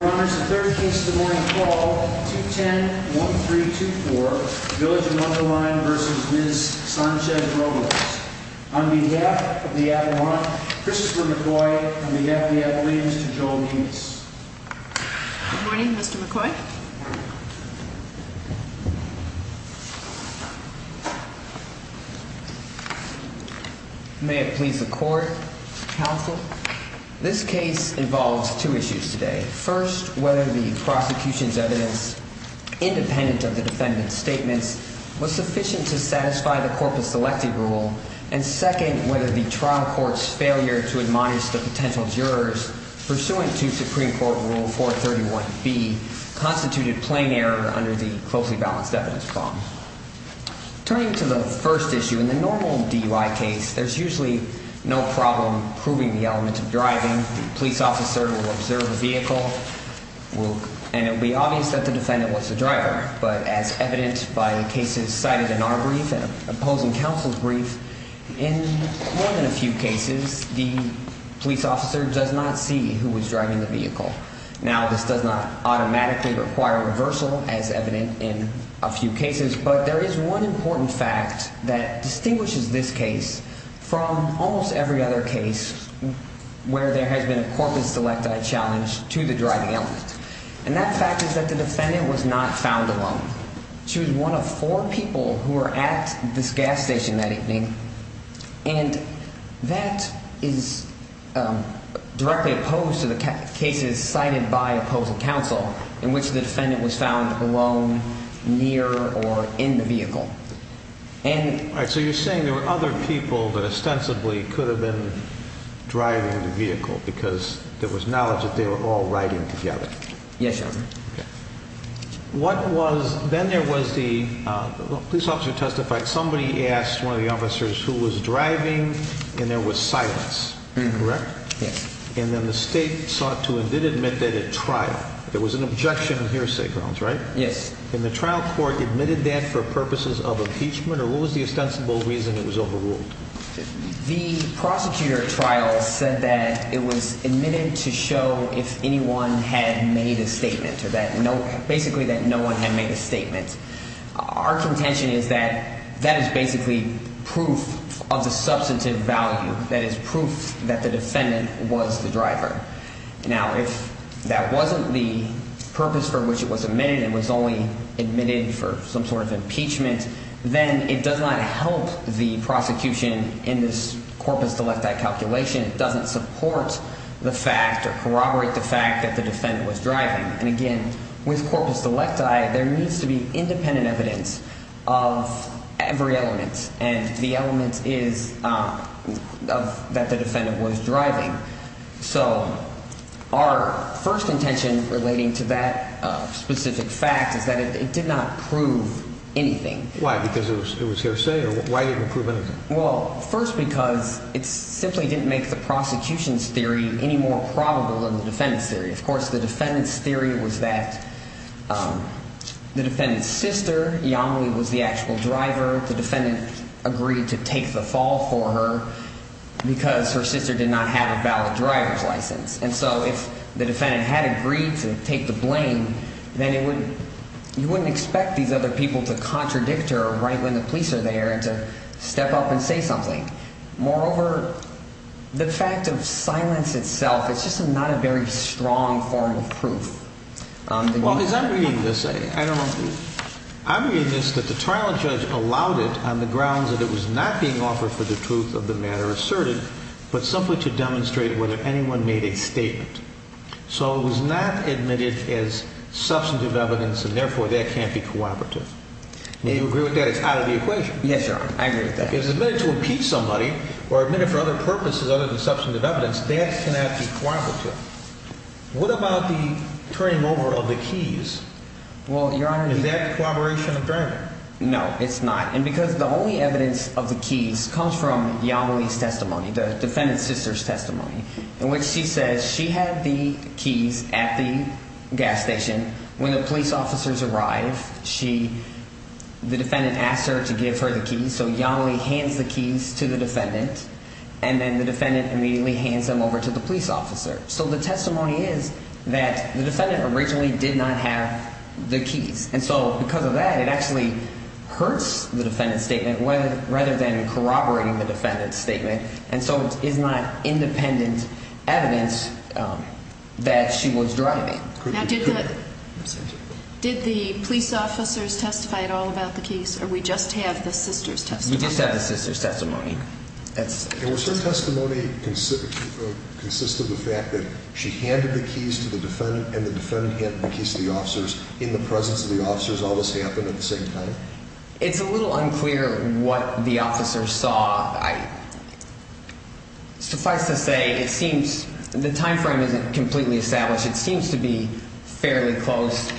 On behalf of the Adelante, Christopher McCoy, on behalf of the Adelantes, to Joel Nunez. Good morning, Mr. McCoy. May it please the Court, Counsel. This case involves two issues today. First, whether the prosecution's evidence, independent of the defendant's statements, was sufficient to satisfy the corporate selective rule. And second, whether the trial court's failure to admonish the potential jurors pursuant to Supreme Court Rule 431B constituted plain error under the closely balanced evidence problem. Turning to the first issue, in the normal DUI case, there's usually no problem proving the element of driving. The police officer will observe the vehicle and it will be obvious that the defendant was the driver. But as evident by the cases cited in our brief and opposing counsel's brief, in more than a few cases, the police officer does not see who was driving the vehicle. Now, this does not automatically require reversal, as evident in a few cases. But there is one important fact that distinguishes this case from almost every other case where there has been a corporate selective challenge to the driving element. And that fact is that the defendant was not found alone. She was one of four people who were at this gas station that evening. And that is directly opposed to the cases cited by opposing counsel in which the defendant was found alone, near, or in the vehicle. All right, so you're saying there were other people that ostensibly could have been driving the vehicle because there was knowledge that they were all riding together. Yes, Your Honor. Then there was the police officer who testified. Somebody asked one of the officers who was driving and there was silence, correct? Yes. And then the state sought to and did admit that at trial. There was an objection in hearsay grounds, right? Yes. And the trial court admitted that for purposes of impeachment? Or what was the ostensible reason it was overruled? The prosecutor at trial said that it was admitted to show if anyone had made a statement or that basically that no one had made a statement. Our contention is that that is basically proof of the substantive value. That is proof that the defendant was the driver. Now, if that wasn't the purpose for which it was admitted and was only admitted for some sort of impeachment, then it does not help the prosecution in this corpus delecti calculation. It doesn't support the fact or corroborate the fact that the defendant was driving. And, again, with corpus delecti, there needs to be independent evidence of every element. And the element is that the defendant was driving. So our first contention relating to that specific fact is that it did not prove anything. Why? Because it was hearsay? Or why didn't it prove anything? Well, first, because it simply didn't make the prosecution's theory any more probable than the defendant's theory. Of course, the defendant's theory was that the defendant's sister, Yamilee, was the actual driver. The defendant agreed to take the fall for her because her sister did not have a valid driver's license. And so if the defendant had agreed to take the blame, then you wouldn't expect these other people to contradict her right when the police are there and to step up and say something. Moreover, the fact of silence itself is just not a very strong form of proof. Well, as I'm reading this, I don't know. I'm reading this that the trial judge allowed it on the grounds that it was not being offered for the truth of the matter asserted, but simply to demonstrate whether anyone made a statement. So it was not admitted as substantive evidence, and, therefore, that can't be cooperative. Do you agree with that? It's out of the equation. Yes, Your Honor. I agree with that. If it's admitted to impeach somebody or admitted for other purposes other than substantive evidence, that cannot be cooperative. What about the turning over of the keys? Well, Your Honor… Is that a cooperation of driving? No, it's not. And because the only evidence of the keys comes from Yamilee's testimony, the defendant's sister's testimony, in which she says she had the keys at the gas station. When the police officers arrived, she – the defendant asked her to give her the keys. And so Yamilee hands the keys to the defendant, and then the defendant immediately hands them over to the police officer. So the testimony is that the defendant originally did not have the keys. And so because of that, it actually hurts the defendant's statement rather than corroborating the defendant's statement, and so it's not independent evidence that she was driving. Now, did the police officers testify at all about the keys, or we just have the sister's testimony? You just have the sister's testimony. And was her testimony consistent with the fact that she handed the keys to the defendant and the defendant handed the keys to the officers in the presence of the officers? All this happened at the same time? It's a little unclear what the officers saw. Suffice to say, it seems – the time frame isn't completely established. It seems to be fairly close.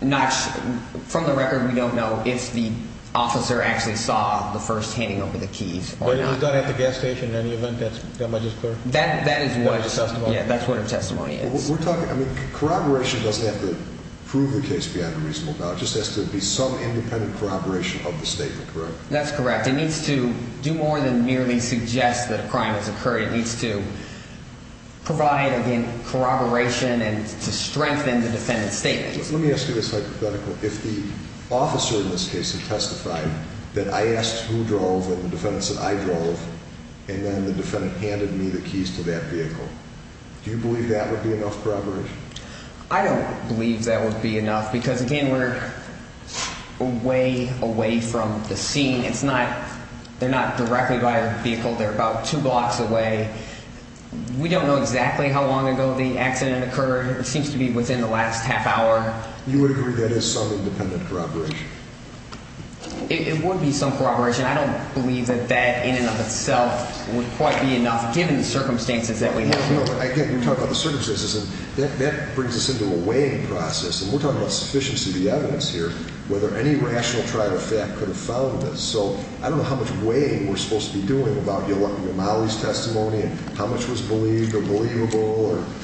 From the record, we don't know if the officer actually saw the first handing over the keys or not. But it was done at the gas station in any event? Am I just clear? That is what her testimony is. We're talking – I mean, corroboration doesn't have to prove the case beyond a reasonable doubt. It just has to be some independent corroboration of the statement, correct? That's correct. It needs to do more than merely suggest that a crime has occurred. It needs to provide, again, corroboration and to strengthen the defendant's statement. Let me ask you this hypothetical. If the officer in this case had testified that I asked who drove and the defendant said I drove, and then the defendant handed me the keys to that vehicle, do you believe that would be enough corroboration? I don't believe that would be enough because, again, we're way away from the scene. It's not – they're not directly by the vehicle. They're about two blocks away. We don't know exactly how long ago the accident occurred. It seems to be within the last half hour. You would agree that is some independent corroboration? It would be some corroboration. I don't believe that that in and of itself would quite be enough given the circumstances that we have here. No, but, again, you're talking about the circumstances, and that brings us into a weighing process. And we're talking about sufficiency of the evidence here, whether any rational trial of fact could have found this. So I don't know how much weighing we're supposed to be doing about Yamali's testimony and how much was believed or believable or –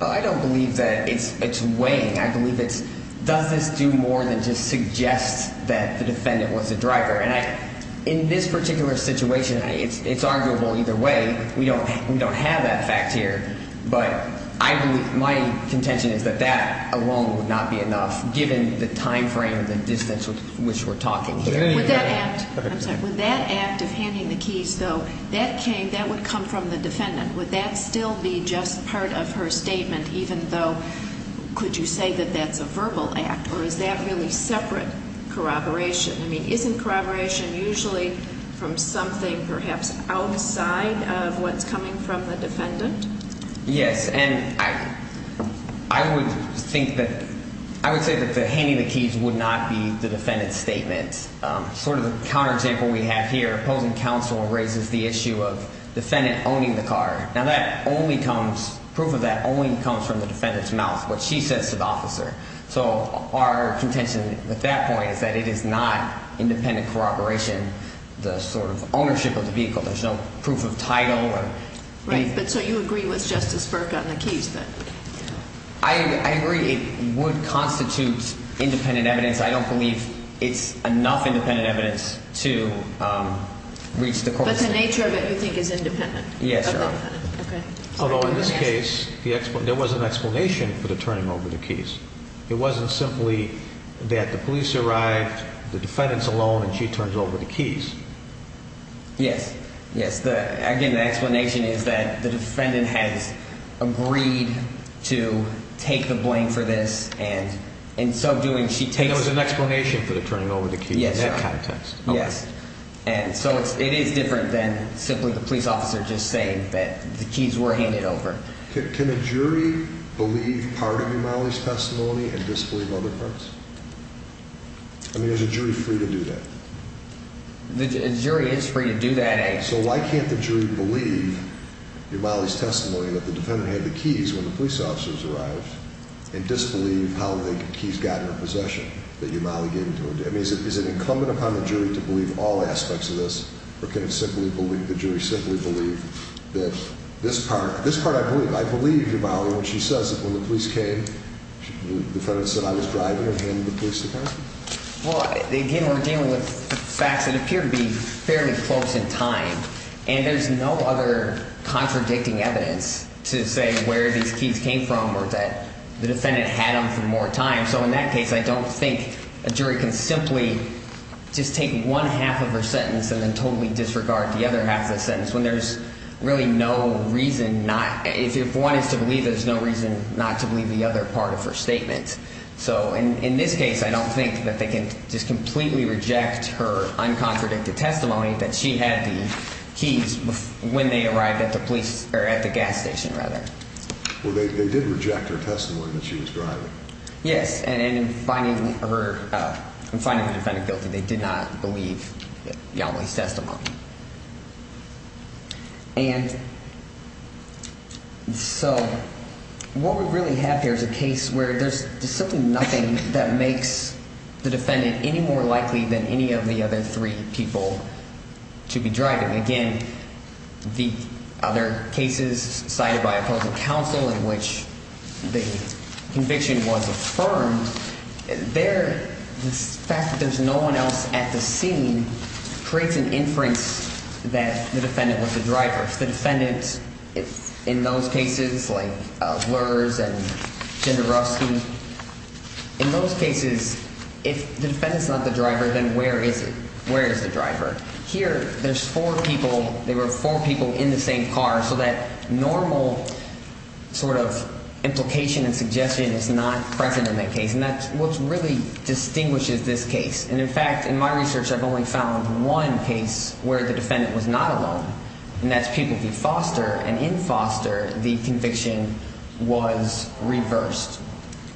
I don't believe that it's weighing. I believe it's does this do more than just suggest that the defendant was the driver. And in this particular situation, it's arguable either way. We don't have that fact here. But I believe – my contention is that that alone would not be enough given the timeframe and the distance with which we're talking here. Would that act – I'm sorry. Would that act of handing the keys, though, that came – that would come from the defendant. Would that still be just part of her statement even though – could you say that that's a verbal act? Or is that really separate corroboration? I mean, isn't corroboration usually from something perhaps outside of what's coming from the defendant? Yes, and I would think that – I would say that the handing the keys would not be the defendant's statement. Sort of the counter-example we have here, opposing counsel raises the issue of defendant owning the car. Now, that only comes – proof of that only comes from the defendant's mouth, what she says to the officer. So our contention at that point is that it is not independent corroboration, the sort of ownership of the vehicle. There's no proof of title or anything. Right, but so you agree with Justice Burke on the keys, then? I agree it would constitute independent evidence. I don't believe it's enough independent evidence to reach the court. But the nature of it you think is independent? Yes, Your Honor. Okay. Although in this case, there was an explanation for the turning over the keys. It wasn't simply that the police arrived, the defendant's alone, and she turns over the keys. Yes, yes. Again, the explanation is that the defendant has agreed to take the blame for this, and in so doing she takes – And there was an explanation for the turning over the keys in that context. Yes. And so it is different than simply the police officer just saying that the keys were handed over. Can a jury believe part of Yamali's testimony and disbelieve other parts? I mean, is a jury free to do that? A jury is free to do that. So why can't the jury believe Yamali's testimony that the defendant had the keys when the police officers arrived and disbelieve how the keys got in her possession that Yamali gave to her? I mean, is it incumbent upon the jury to believe all aspects of this, or can the jury simply believe that this part? This part I believe. I believe, Yamali, when she says that when the police came, the defendant said I was driving and handed the keys to her. Well, again, we're dealing with facts that appear to be fairly close in time, and there's no other contradicting evidence to say where these keys came from or that the defendant had them for more time. So in that case, I don't think a jury can simply just take one half of her sentence and then totally disregard the other half of the sentence when there's really no reason not. If one is to believe, there's no reason not to believe the other part of her statement. So in this case, I don't think that they can just completely reject her uncontradicted testimony that she had the keys when they arrived at the police or at the gas station, rather. Well, they did reject her testimony that she was driving. Yes, and in finding her defendant guilty, they did not believe Yamali's testimony. And so what we really have here is a case where there's simply nothing that makes the defendant any more likely than any of the other three people to be driving. Again, the other cases cited by opposing counsel in which the conviction was affirmed, the fact that there's no one else at the scene creates an inference that the defendant was the driver. If the defendant in those cases, like Lurz and Jenderowski, in those cases, if the defendant's not the driver, then where is it? Where is the driver? Here, there's four people. They were four people in the same car. So that normal sort of implication and suggestion is not present in that case. And that's what really distinguishes this case. And, in fact, in my research, I've only found one case where the defendant was not alone, and that's Pukliki Foster. And in Foster, the conviction was reversed.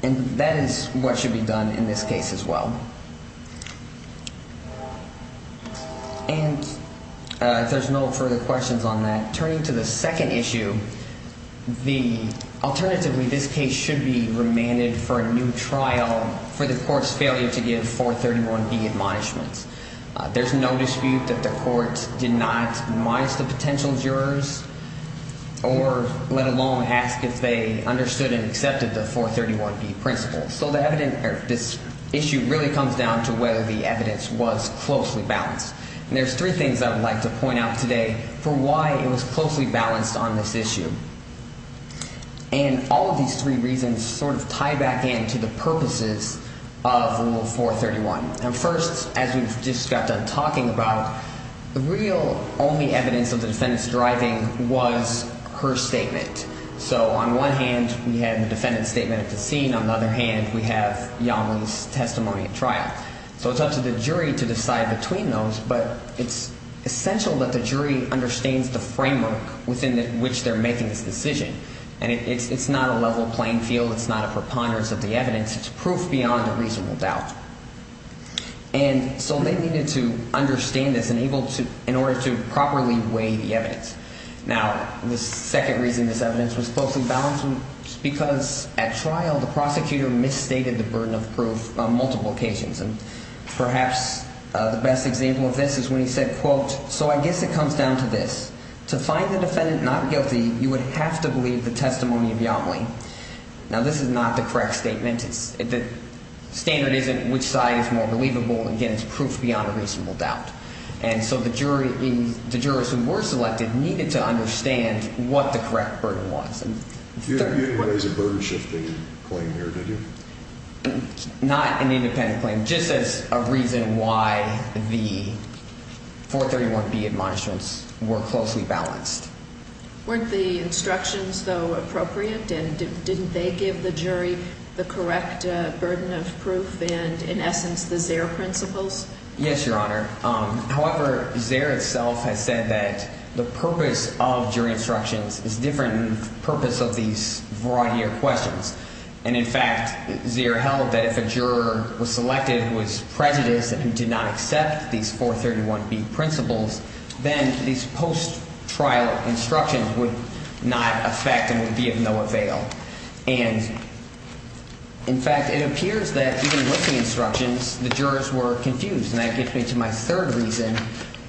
And that is what should be done in this case as well. And if there's no further questions on that, turning to the second issue, the alternative in this case should be remanded for a new trial for the court's failure to give 431B admonishments. There's no dispute that the court did not admonish the potential jurors or let alone ask if they understood and accepted the 431B principles. So this issue really comes down to whether the evidence was closely balanced. And there's three things I would like to point out today for why it was closely balanced on this issue. And all of these three reasons sort of tie back in to the purposes of Rule 431. Now, first, as we've just got done talking about, the real only evidence of the defendant's driving was her statement. So on one hand, we have the defendant's statement at the scene. On the other hand, we have Yamlee's testimony at trial. So it's up to the jury to decide between those, but it's essential that the jury understands the framework within which they're making this decision. And it's not a level playing field. It's not a preponderance of the evidence. It's proof beyond a reasonable doubt. And so they needed to understand this in order to properly weigh the evidence. Now, the second reason this evidence was closely balanced was because at trial the prosecutor misstated the burden of proof on multiple occasions. And perhaps the best example of this is when he said, quote, so I guess it comes down to this. To find the defendant not guilty, you would have to believe the testimony of Yamlee. Now, this is not the correct statement. The standard isn't which side is more believable. Again, it's proof beyond a reasonable doubt. And so the jurors who were selected needed to understand what the correct burden was. You didn't raise a burden-shifting claim here, did you? Not an independent claim, just as a reason why the 431B admonishments were closely balanced. Weren't the instructions, though, appropriate? And didn't they give the jury the correct burden of proof and, in essence, the Zare principles? Yes, Your Honor. However, Zare itself has said that the purpose of jury instructions is different than the purpose of these variety of questions. And, in fact, Zare held that if a juror was selected who was prejudiced and who did not accept these 431B principles, then these post-trial instructions would not affect and would be of no avail. And, in fact, it appears that even with the instructions, the jurors were confused. And that gets me to my third reason,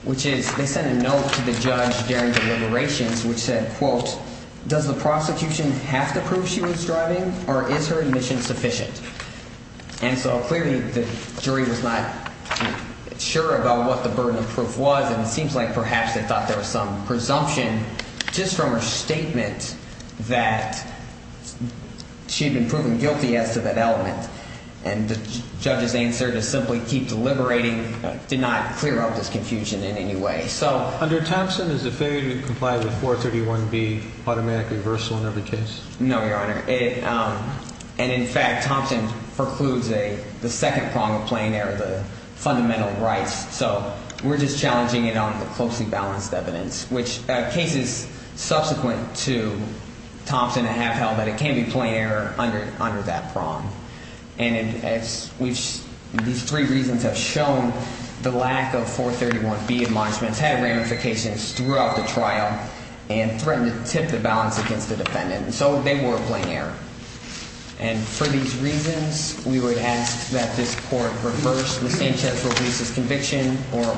which is they sent a note to the judge during deliberations which said, quote, does the prosecution have to prove she was driving or is her admission sufficient? And so clearly the jury was not sure about what the burden of proof was. And it seems like perhaps they thought there was some presumption just from her statement that she had been proven guilty as to that element. And the judge's answer to simply keep deliberating did not clear up this confusion in any way. So under Thompson, does the failure to comply with 431B automatically reversal in every case? No, Your Honor. And, in fact, Thompson precludes the second prong of plain error, the fundamental rights. So we're just challenging it on the closely balanced evidence, which cases subsequent to Thompson have held that it can be plain error under that prong. And these three reasons have shown the lack of 431B admonishments, had ramifications throughout the trial, and threatened to tip the balance against the defendant. So they were a plain error. And for these reasons, we would ask that this court reverse Ms. Sanchez Robles' conviction or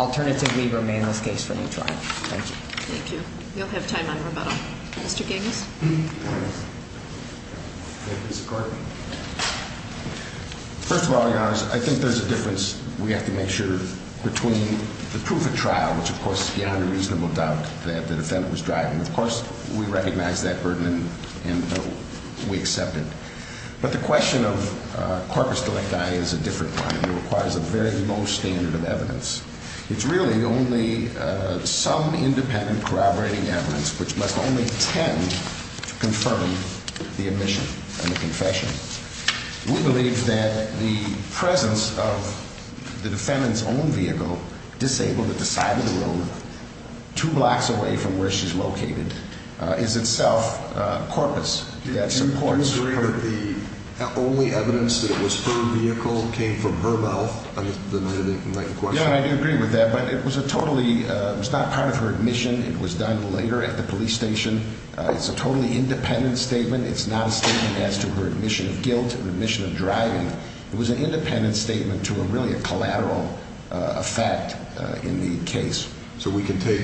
alternatively remain this case for a new trial. Thank you. Thank you. You'll have time on rebuttal. Mr. Giggs? First of all, Your Honor, I think there's a difference we have to make sure between the proof of trial, which of course is beyond a reasonable doubt that the defendant was driving. Of course, we recognize that burden and we accept it. But the question of corpus delicti is a different kind. It requires a very low standard of evidence. It's really only some independent corroborating evidence, which must only tend to confirm the admission and the confession. We believe that the presence of the defendant's own vehicle disabled at the side of the road, two blocks away from where she's located, is itself corpus. Do you agree that the only evidence that it was her vehicle came from her mouth? Yeah, I do agree with that. But it was not part of her admission. It was done later at the police station. It's a totally independent statement. It's not a statement as to her admission of guilt or admission of driving. It was an independent statement to a really collateral effect in the case. So we can take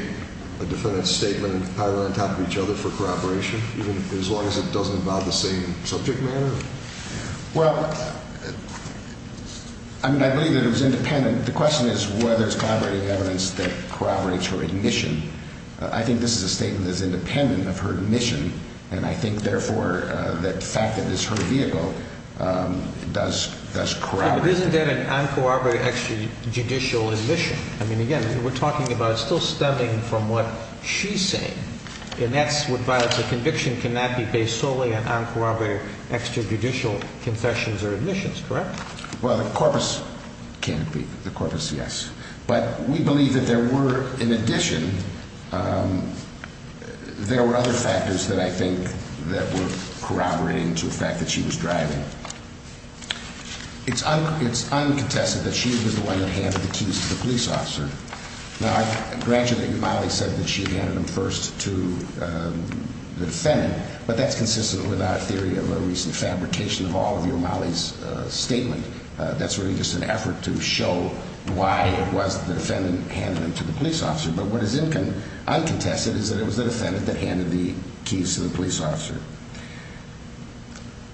a defendant's statement and pile it on top of each other for corroboration as long as it doesn't involve the same subject matter? Well, I mean, I believe that it was independent. The question is whether it's corroborating evidence that corroborates her admission. I think this is a statement that's independent of her admission, and I think, therefore, the fact that it's her vehicle does corroborate it. But isn't that an uncorroborated extrajudicial admission? I mean, again, we're talking about it still stemming from what she's saying. And that's what violates a conviction cannot be based solely on uncorroborated extrajudicial confessions or admissions, correct? Well, the corpus can't be. The corpus, yes. But we believe that there were, in addition, there were other factors that I think that were corroborating to the fact that she was driving. It's uncontested that she was the one that handed the keys to the police officer. Now, I grant you that Yomali said that she had handed them first to the defendant, but that's consistent with our theory of a recent fabrication of all of Yomali's statement. That's really just an effort to show why it was the defendant handed them to the police officer. But what is uncontested is that it was the defendant that handed the keys to the police officer.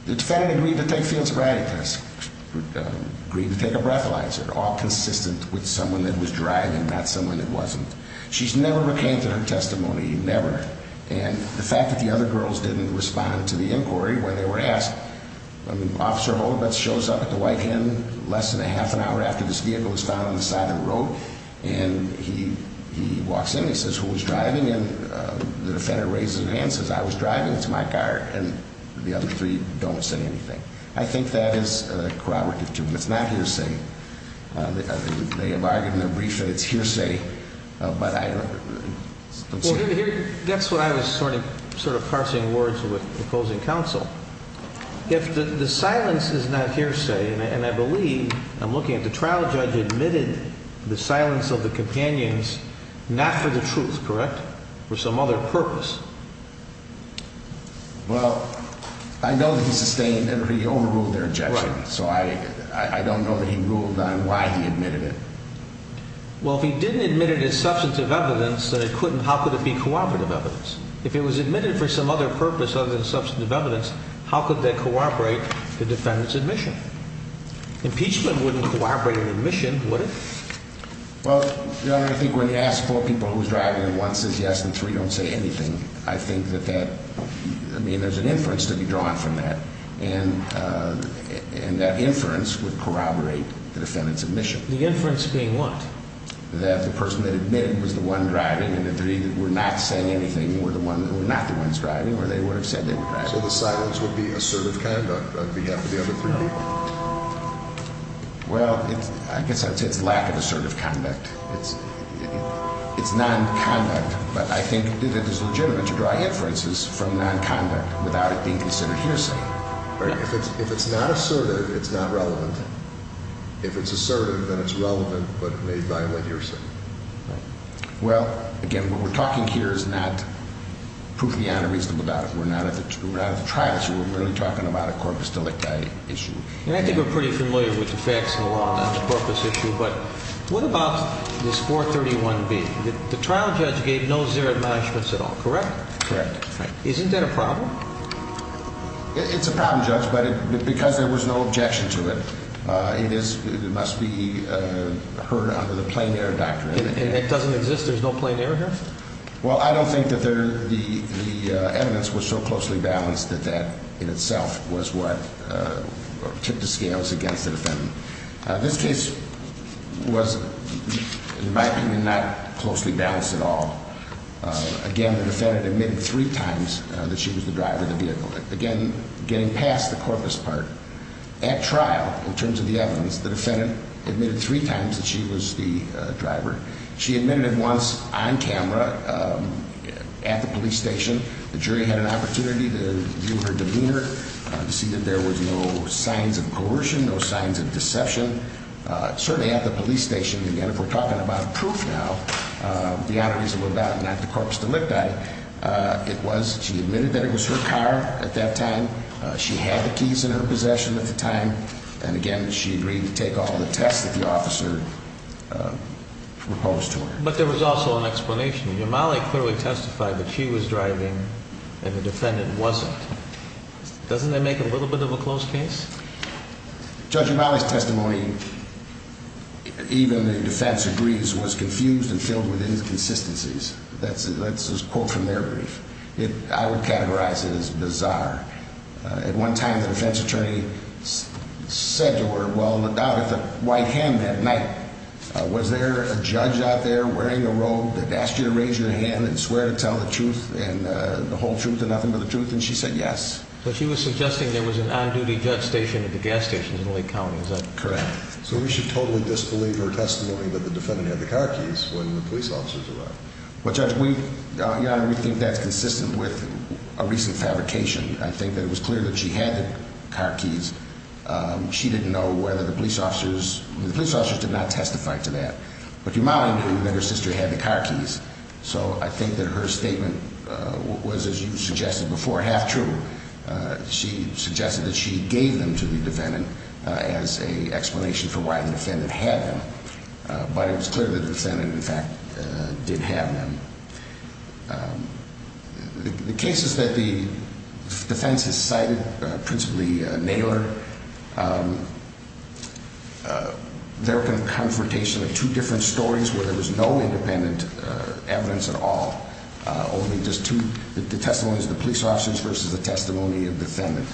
The defendant agreed to take field sobriety tests, agreed to take a breathalyzer, all consistent with someone that was driving, not someone that wasn't. She's never recanted her testimony, never. And the fact that the other girls didn't respond to the inquiry when they were asked. Officer Holden shows up at the White Inn less than a half an hour after this vehicle was found on the side of the road. And he walks in and he says, who was driving? And the defendant raises his hand and says, I was driving. It's my car. And the other three don't say anything. I think that is corroborative to them. It's not hearsay. They have argued in their brief that it's hearsay, but I don't see it. That's what I was sort of parsing words with opposing counsel. If the silence is not hearsay, and I believe I'm looking at the trial judge admitted the silence of the companions, not for the truth, correct? For some other purpose. Well, I know he sustained and he overruled their objection. So I don't know that he ruled on why he admitted it. Well, if he didn't admit it as substantive evidence that it couldn't, how could it be corroborative evidence? If it was admitted for some other purpose other than substantive evidence, how could that corroborate the defendant's admission? Impeachment wouldn't corroborate an admission, would it? Well, Your Honor, I think when you ask four people who was driving and one says yes and three don't say anything, I think that that, I mean, there's an inference to be drawn from that. And that inference would corroborate the defendant's admission. The inference being what? That the person that admitted was the one driving and the three that were not saying anything were not the ones driving or they would have said they were driving. So the silence would be assertive conduct on behalf of the other three people? Well, I guess I would say it's lack of assertive conduct. It's non-conduct, but I think that it is legitimate to draw inferences from non-conduct without it being considered hearsay. If it's not assertive, it's not relevant. If it's assertive, then it's relevant, but it may violate hearsay. Well, again, what we're talking here is not proof you have a reason about it. We're not at the trial, so we're really talking about a corpus delicti issue. And I think we're pretty familiar with the facts of the law, not the corpus issue, but what about this 431B? The trial judge gave no zero admonishments at all, correct? Correct. Isn't that a problem? It's a problem, Judge, but because there was no objection to it, it must be heard under the plain error doctrine. And it doesn't exist? There's no plain error here? Well, I don't think that the evidence was so closely balanced that that in itself was what tipped the scales against the defendant. This case was, in my opinion, not closely balanced at all. Again, the defendant admitted three times that she was the driver of the vehicle. Again, getting past the corpus part, at trial, in terms of the evidence, the defendant admitted three times that she was the driver. She admitted it once on camera at the police station. The jury had an opportunity to view her demeanor, to see that there was no signs of coercion, no signs of deception. Certainly at the police station, again, if we're talking about proof now, beyond a reasonable doubt not the corpus delicti, it was she admitted that it was her car at that time. She had the keys in her possession at the time. And again, she agreed to take all the tests that the officer proposed to her. But there was also an explanation. Yamali clearly testified that she was driving and the defendant wasn't. Doesn't that make a little bit of a close case? Judge Yamali's testimony, even the defense agrees, was confused and filled with inconsistencies. That's a quote from their brief. I would categorize it as bizarre. At one time, the defense attorney said to her, well, look down at the white hand that night. Was there a judge out there wearing a robe that asked you to raise your hand and swear to tell the truth, and the whole truth and nothing but the truth? And she said yes. But she was suggesting there was an on-duty judge station at the gas station in Lake County, is that correct? Correct. So we should totally disbelieve her testimony that the defendant had the car keys when the police officers arrived. Well, Judge, we think that's consistent with a recent fabrication. I think that it was clear that she had the car keys. She didn't know whether the police officers, the police officers did not testify to that. But Yamali knew that her sister had the car keys, so I think that her statement was, as you suggested before, half true. She suggested that she gave them to the defendant as an explanation for why the defendant had them. But it was clear that the defendant, in fact, did have them. The cases that the defense has cited, principally Naylor, they're a confrontation of two different stories where there was no independent evidence at all, only just the testimonies of the police officers versus the testimony of the defendant.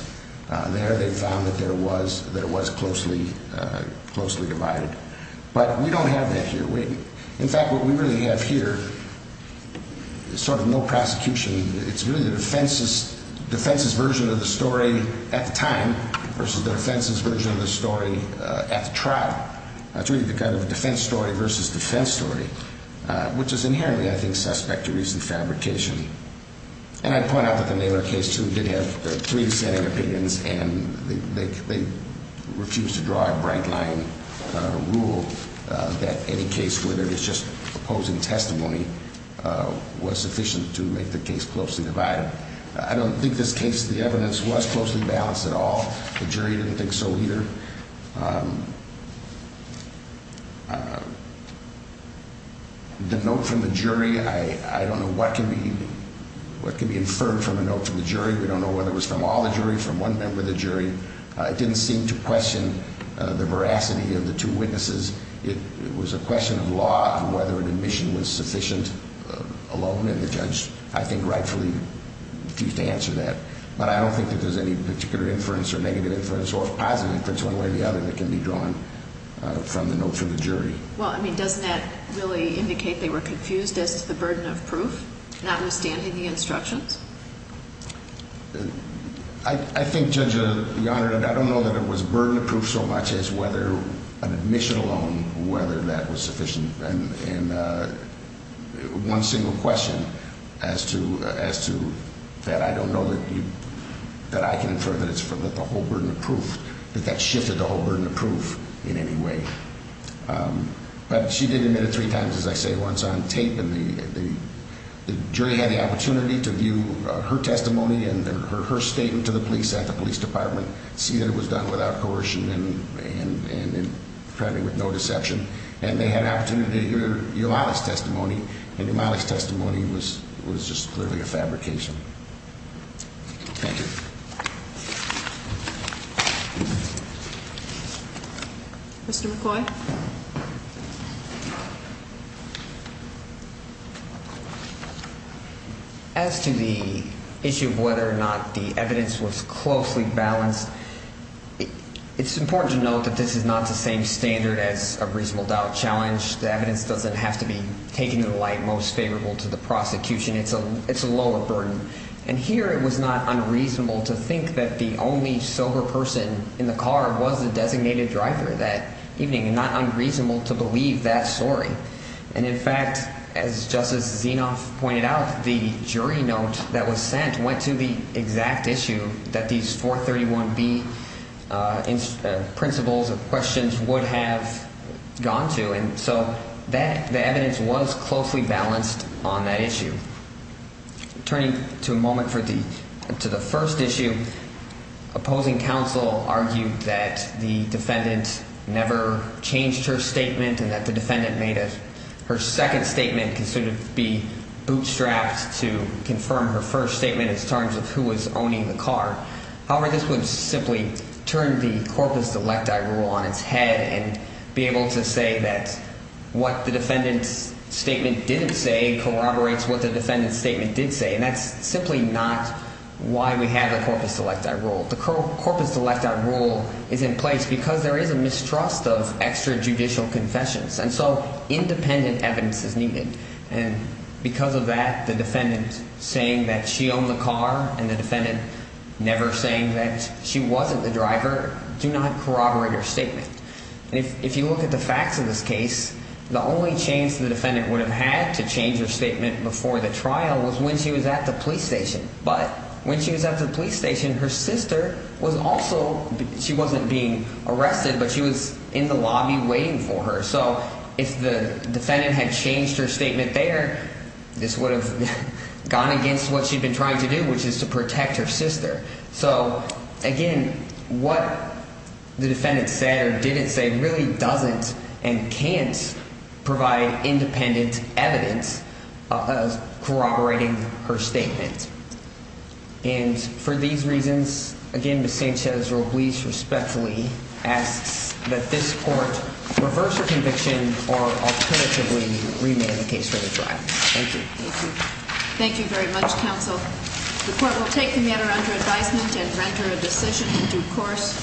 There they found that it was closely divided. But we don't have that here. In fact, what we really have here is sort of no prosecution. It's really the defense's version of the story at the time versus the defense's version of the story at the trial. It's really kind of a defense story versus defense story, which is inherently, I think, suspect to recent fabrication. And I'd point out that the Naylor case, too, did have three dissenting opinions, and they refused to draw a bright-line rule that any case, whether it was just opposing testimony, was sufficient to make the case closely divided. I don't think this case, the evidence, was closely balanced at all. The jury didn't think so either. The note from the jury, I don't know what can be inferred from a note from the jury. We don't know whether it was from all the jury, from one member of the jury. It didn't seem to question the veracity of the two witnesses. It was a question of law and whether an admission was sufficient alone, and the judge, I think, rightfully refused to answer that. But I don't think that there's any particular inference or negative inference or positive inference, one way or the other, that can be drawn from the note from the jury. Well, I mean, doesn't that really indicate they were confused as to the burden of proof, notwithstanding the instructions? I think, Judge, Your Honor, I don't know that it was burden of proof so much as whether an admission alone, whether that was sufficient, and one single question as to that I don't know that I can infer that it's the whole burden of proof, that that shifted the whole burden of proof in any way. But she did admit it three times, as I say, once on tape, and the jury had the opportunity to view her testimony and her statement to the police at the police department, see that it was done without coercion and apparently with no deception, and they had an opportunity to hear Eulalia's testimony, and Eulalia's testimony was just clearly a fabrication. Thank you. Mr. McCoy? As to the issue of whether or not the evidence was closely balanced, it's important to note that this is not the same standard as a reasonable doubt challenge. The evidence doesn't have to be taken to the light most favorable to the prosecution. It's a lower burden. And here it was not unreasonable to think that the only sober person in the car was the designated driver that evening, and not unreasonable to believe that story. And, in fact, as Justice Zinoff pointed out, the jury note that was sent went to the exact issue that these 431B principles of questions would have gone to, and so the evidence was closely balanced on that issue. Turning to a moment for the – to the first issue, opposing counsel argued that the defendant never changed her statement and that the defendant made a – her second statement could sort of be bootstrapped to confirm her first statement in terms of who was owning the car. However, this would simply turn the corpus electi rule on its head and be able to say that what the defendant's statement didn't say corroborates what the defendant's statement did say, and that's simply not why we have the corpus electi rule. The corpus electi rule is in place because there is a mistrust of extrajudicial confessions, and so independent evidence is needed. And because of that, the defendant saying that she owned the car and the defendant never saying that she wasn't the driver do not corroborate her statement. And if you look at the facts of this case, the only chance the defendant would have had to change her statement before the trial was when she was at the police station. But when she was at the police station, her sister was also – she wasn't being arrested, but she was in the lobby waiting for her. So if the defendant had changed her statement there, this would have gone against what she'd been trying to do, which is to protect her sister. So, again, what the defendant said or didn't say really doesn't and can't provide independent evidence of corroborating her statement. And for these reasons, again, Ms. Sanchez-Ruiz respectfully asks that this court reverse her conviction or alternatively remand the case for the trial. Thank you. Thank you. Thank you very much, counsel. The court will take the matter under advisement and render a decision in due course.